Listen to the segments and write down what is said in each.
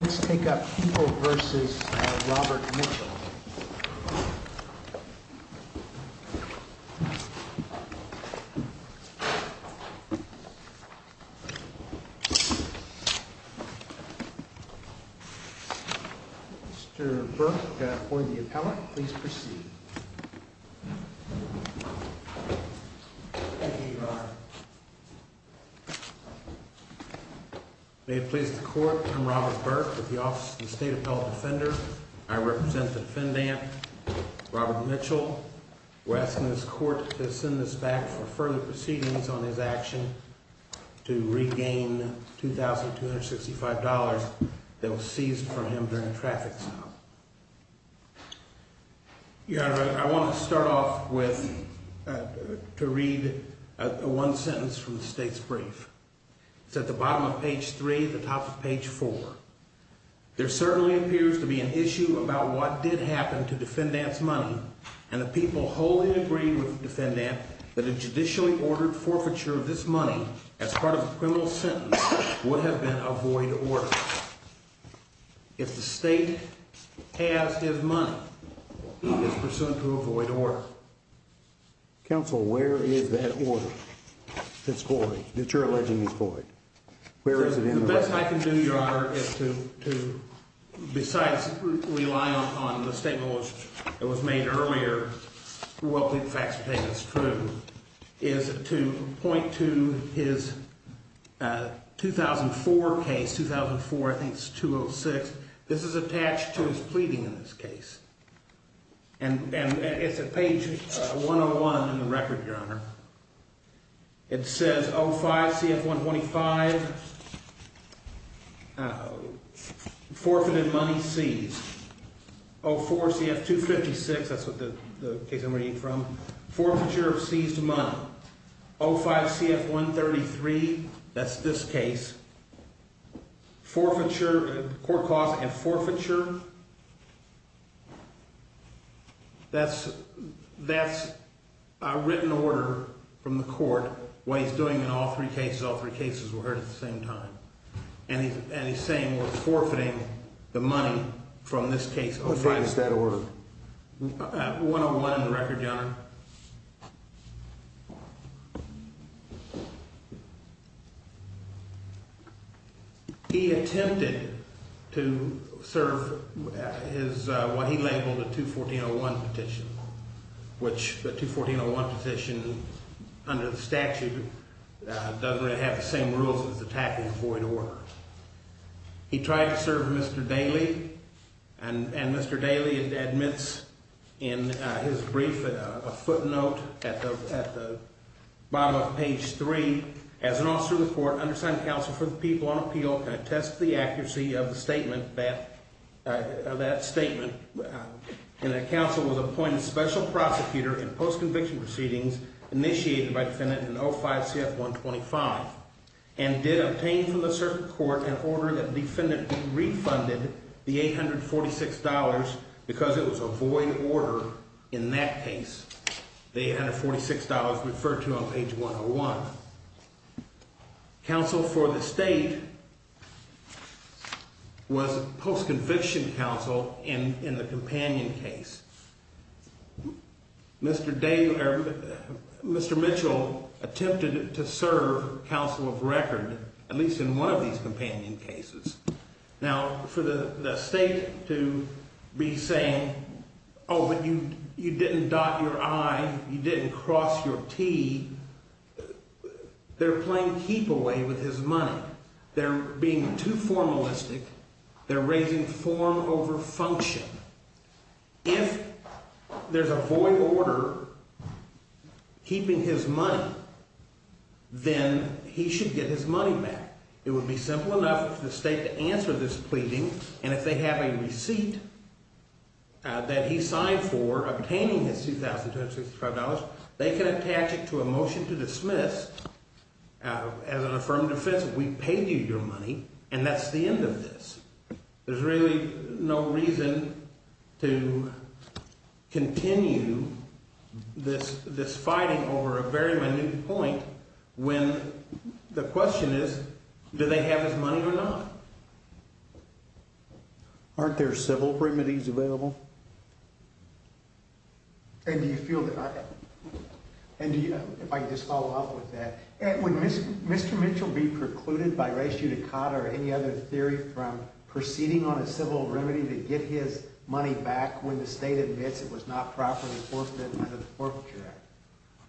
Let's take up Heeple v. Robert Mitchell. Mr. Burke, for the appellate, please proceed. Thank you, Your Honor. May it please the Court, I'm Robert Burke with the Office of the State Appellate Defender. I represent the defendant, Robert Mitchell. We're asking this Court to send this back for further proceedings on his action to regain $2,265 that was seized from him during a traffic stop. Your Honor, I want to start off with, to read one sentence from the State's brief. It's at the bottom of page 3, the top of page 4. There certainly appears to be an issue about what did happen to defendant's money, and the people wholly agree with the defendant that a judicially ordered forfeiture of this money as part of a criminal sentence would have been a void order. If the State has his money, it's pursuant to a void order. Counsel, where is that order? It's void, that you're alleging is void. Where is it in the record? The best I can do, Your Honor, is to, besides rely on the statement that was made earlier, is to point to his 2004 case, 2004, I think it's 2006. This is attached to his pleading in this case. And it's at page 101 in the record, Your Honor. It says, 05-CF-125, forfeited money seized. 04-CF-256, that's what the case I'm reading from, forfeiture of seized money. 05-CF-133, that's this case. Forfeiture, the court calls it a forfeiture. That's a written order from the court, what he's doing in all three cases, all three cases were heard at the same time. And he's saying we're forfeiting the money from this case. What file is that order? 101 in the record, Your Honor. He attempted to serve what he labeled a 214-01 petition, which the 214-01 petition under the statute doesn't really have the same rules as attacking a void order. He tried to serve Mr. Daley, and Mr. Daley admits in his brief a footnote at the bottom of page 3. As an officer of the court, undersigned counsel for the people on appeal can attest to the accuracy of the statement, that statement. And that counsel was appointed special prosecutor in post-conviction proceedings initiated by defendant in 05-CF-125. And did obtain from the circuit court an order that defendant be refunded the $846 because it was a void order in that case. The $846 referred to on page 101. Counsel for the state was post-conviction counsel in the companion case. Mr. Mitchell attempted to serve counsel of record, at least in one of these companion cases. Now, for the state to be saying, oh, but you didn't dot your I, you didn't cross your T, they're playing keep away with his money. They're being too formalistic. They're raising form over function. If there's a void order keeping his money, then he should get his money back. It would be simple enough for the state to answer this pleading. And if they have a receipt that he signed for obtaining his $2,265, they can attach it to a motion to dismiss. As an affirmative defense, we paid you your money. And that's the end of this. There's really no reason to continue this fighting over a very minute point when the question is, do they have his money or not? Aren't there civil remedies available? And do you feel that – if I could just follow up with that. Would Mr. Mitchell be precluded by res judicata or any other theory from proceeding on a civil remedy to get his money back when the state admits it was not properly enforced under the Forfeiture Act?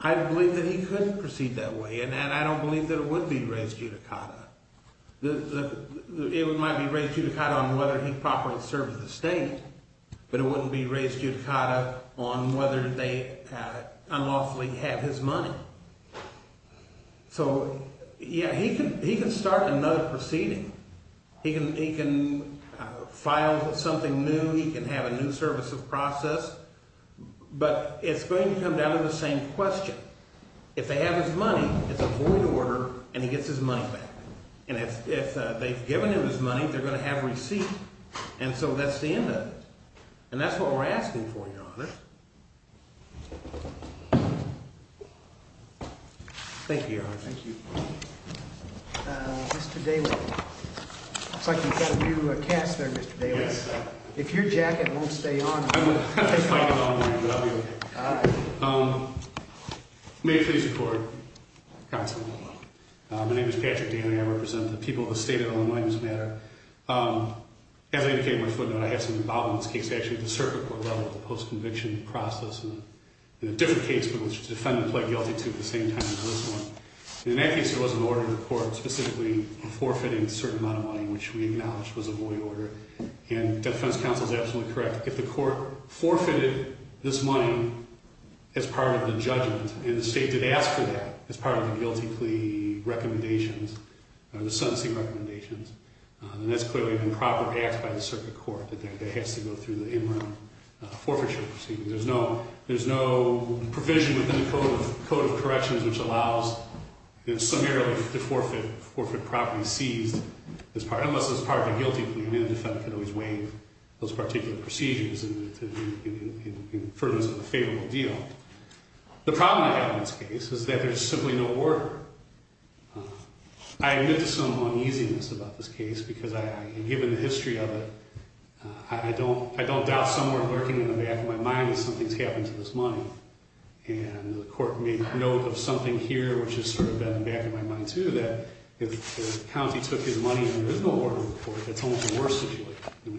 I believe that he couldn't proceed that way, and I don't believe that it would be res judicata. It might be res judicata on whether he properly serves the state, but it wouldn't be res judicata on whether they unlawfully have his money. So, yeah, he can start another proceeding. He can file something new. He can have a new services process. But it's going to come down to the same question. If they have his money, it's a void order, and he gets his money back. And if they've given him his money, they're going to have a receipt, and so that's the end of it. And that's what we're asking for, Your Honor. Thank you, Your Honor. Thank you. Mr. Daly. It looks like you've got a new cast there, Mr. Daly. Yes, sir. If your jacket won't stay on… I'm just fighting on the roof, but I'll be okay. All right. May it please the Court, counsel. My name is Patrick Daly. I represent the people of the state of Illinois in this matter. As I indicated in my footnote, I have something about this case actually at the circuit court level, the post-conviction process, and a different case in which the defendant pled guilty to at the same time as this one. In that case, there was an order in the court specifically forfeiting a certain amount of money, which we acknowledge was a void order. And the defense counsel is absolutely correct. If the court forfeited this money as part of the judgment, and the state did ask for that as part of the guilty plea recommendations or the sentencing recommendations, then that's clearly an improper act by the circuit court that has to go through the in-room forfeiture proceeding. There's no provision within the Code of Corrections which allows it summarily to forfeit property seized, unless it's part of the guilty plea. And then the defendant can always waive those particular procedures in furtherance of a favorable deal. The problem I have in this case is that there's simply no order. I admit to some uneasiness about this case, because given the history of it, I don't doubt someone lurking in the back of my mind that something's happened to this money. And the court made note of something here, which has sort of been in the back of my mind, too, that if the county took his money in the original order of the court, that's almost a worse situation.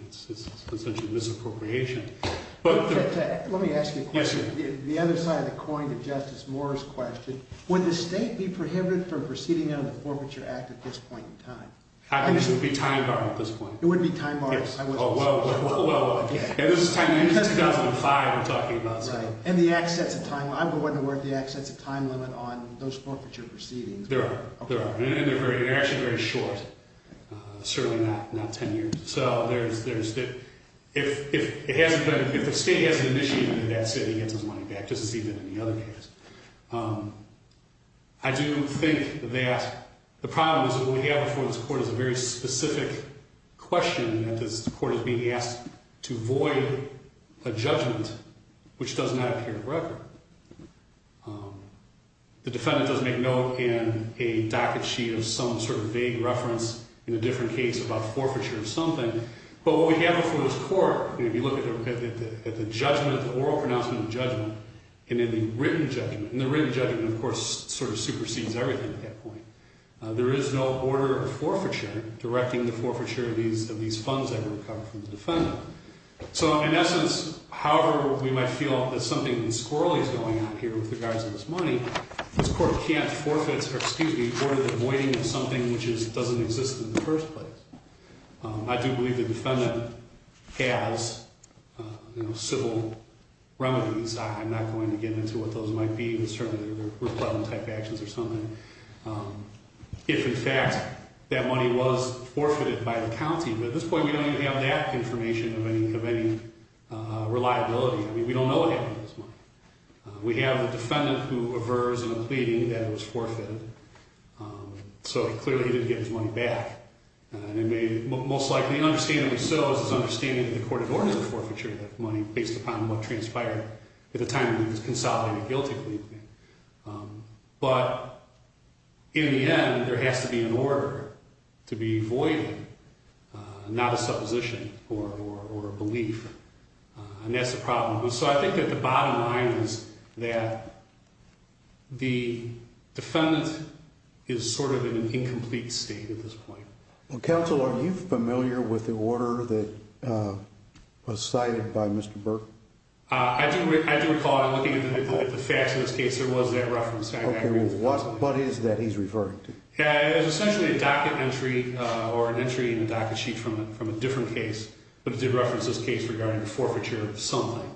It's essentially misappropriation. Let me ask you a question. Yes, sir. The other side of the coin to Justice Moore's question, would the state be prohibited from proceeding under the Forfeiture Act at this point in time? I think this would be time-barred at this point. It wouldn't be time-barred? Yes. Oh, well, this is 2005 we're talking about, so. Right. And the access of time, I wasn't aware of the access of time limit on those forfeiture proceedings. There are. There are. And they're actually very short, certainly not 10 years. So there's that. If it hasn't been, if the state hasn't initiated it, that's it. He gets his money back just as he did in the other case. I do think that the problem is that what we have before this court is a very specific question that this court is being asked to void a judgment which does not appear in the record. The defendant does make note in a docket sheet of some sort of vague reference in a different case about forfeiture of something. But what we have before this court, if you look at the judgment, the oral pronouncement of judgment, and then the written judgment. And the written judgment, of course, sort of supersedes everything at that point. There is no order of forfeiture directing the forfeiture of these funds that were recovered from the defendant. So, in essence, however we might feel that something squirrely is going on here with regards to this money, this court can't forfeit or, excuse me, order the voiding of something which doesn't exist in the first place. I do believe the defendant has, you know, civil remedies. I'm not going to get into what those might be. They're certainly replevant type actions or something. If, in fact, that money was forfeited by the county. But at this point, we don't even have that information of any reliability. I mean, we don't know what happened to this money. We have a defendant who avers in a pleading that it was forfeited. So, clearly, he didn't get his money back. And most likely, understandably so, is his understanding that the court had ordered the forfeiture of that money based upon what transpired at the time when he was consolidating a guilty plea claim. But in the end, there has to be an order to be voided, not a supposition or a belief. And that's the problem. So I think that the bottom line is that the defendant is sort of in an incomplete state at this point. Well, counsel, are you familiar with the order that was cited by Mr. Burke? I do recall looking at the facts of this case, there was that reference. Okay. What is that he's referring to? It was essentially a docket entry or an entry in a docket sheet from a different case. But it did reference this case regarding the forfeiture of something.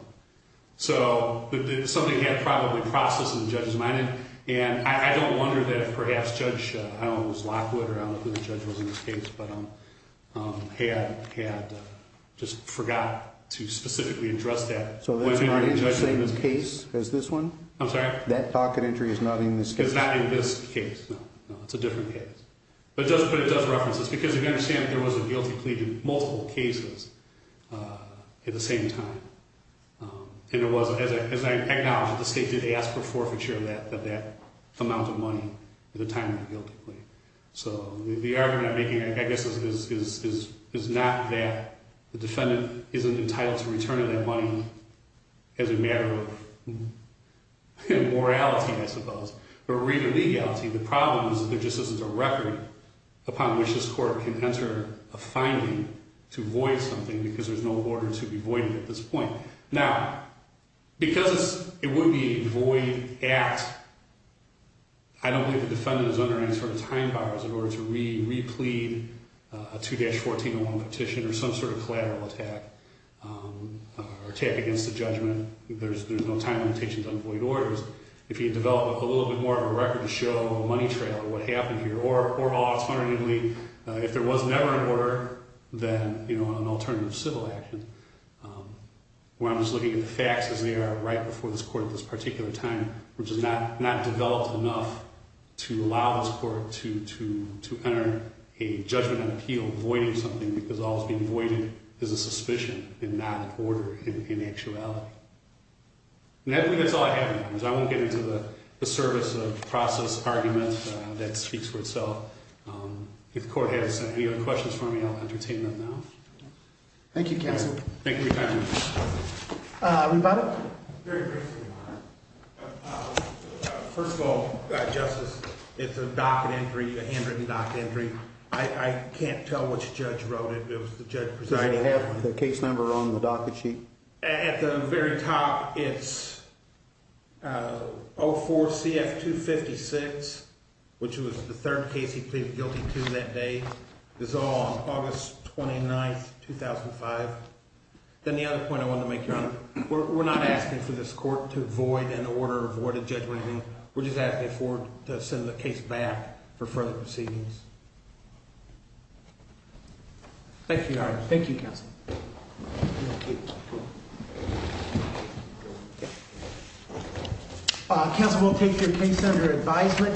So something had probably processed in the judge's mind. And I don't wonder that perhaps Judge, I don't know if it was Lockwood or I don't know who the judge was in this case, but had just forgot to specifically address that. So that's not in the same case as this one? I'm sorry? That docket entry is not in this case? It's not in this case, no. It's a different case. But it does reference this because you have to understand there was a guilty plea in multiple cases at the same time. And it was, as I acknowledge, the state did ask for forfeiture of that amount of money at the time of the guilty plea. So the argument I'm making, I guess, is not that the defendant isn't entitled to return that money as a matter of morality, I suppose. Or read or legality. The problem is that there just isn't a record upon which this court can enter a finding to void something because there's no order to be voided at this point. Now, because it would be void at, I don't believe the defendant is under any sort of time bars in order to re-plead a 2-14-01 petition or some sort of collateral attack or attack against the judgment. There's no time limitations on void orders. If you develop a little bit more of a record to show a money trail of what happened here, or alternatively, if there was never an order, then an alternative civil action, where I'm just looking at the facts as they are right before this court at this particular time, which is not developed enough to allow this court to enter a judgment and appeal voiding something because all that's being voided is a suspicion and not an order in actuality. And I believe that's all I have on that. I won't get into the service of process arguments. That speaks for itself. If the court has any other questions for me, I'll entertain them now. Thank you, counsel. Thank you for your time. Rebuttal? Very briefly, Your Honor. First of all, Justice, it's a docket entry, a handwritten docket entry. I can't tell which judge wrote it. It was the judge presiding. Does it have the case number on the docket sheet? At the very top, it's 04CF256, which was the third case he pleaded guilty to that day. This is all on August 29, 2005. Then the other point I wanted to make, Your Honor, we're not asking for this court to void an order or void a judgment or anything. We're just asking for it to send the case back for further proceedings. Thank you, Your Honor. Thank you, counsel. Thank you. Counsel will take your case under advisement.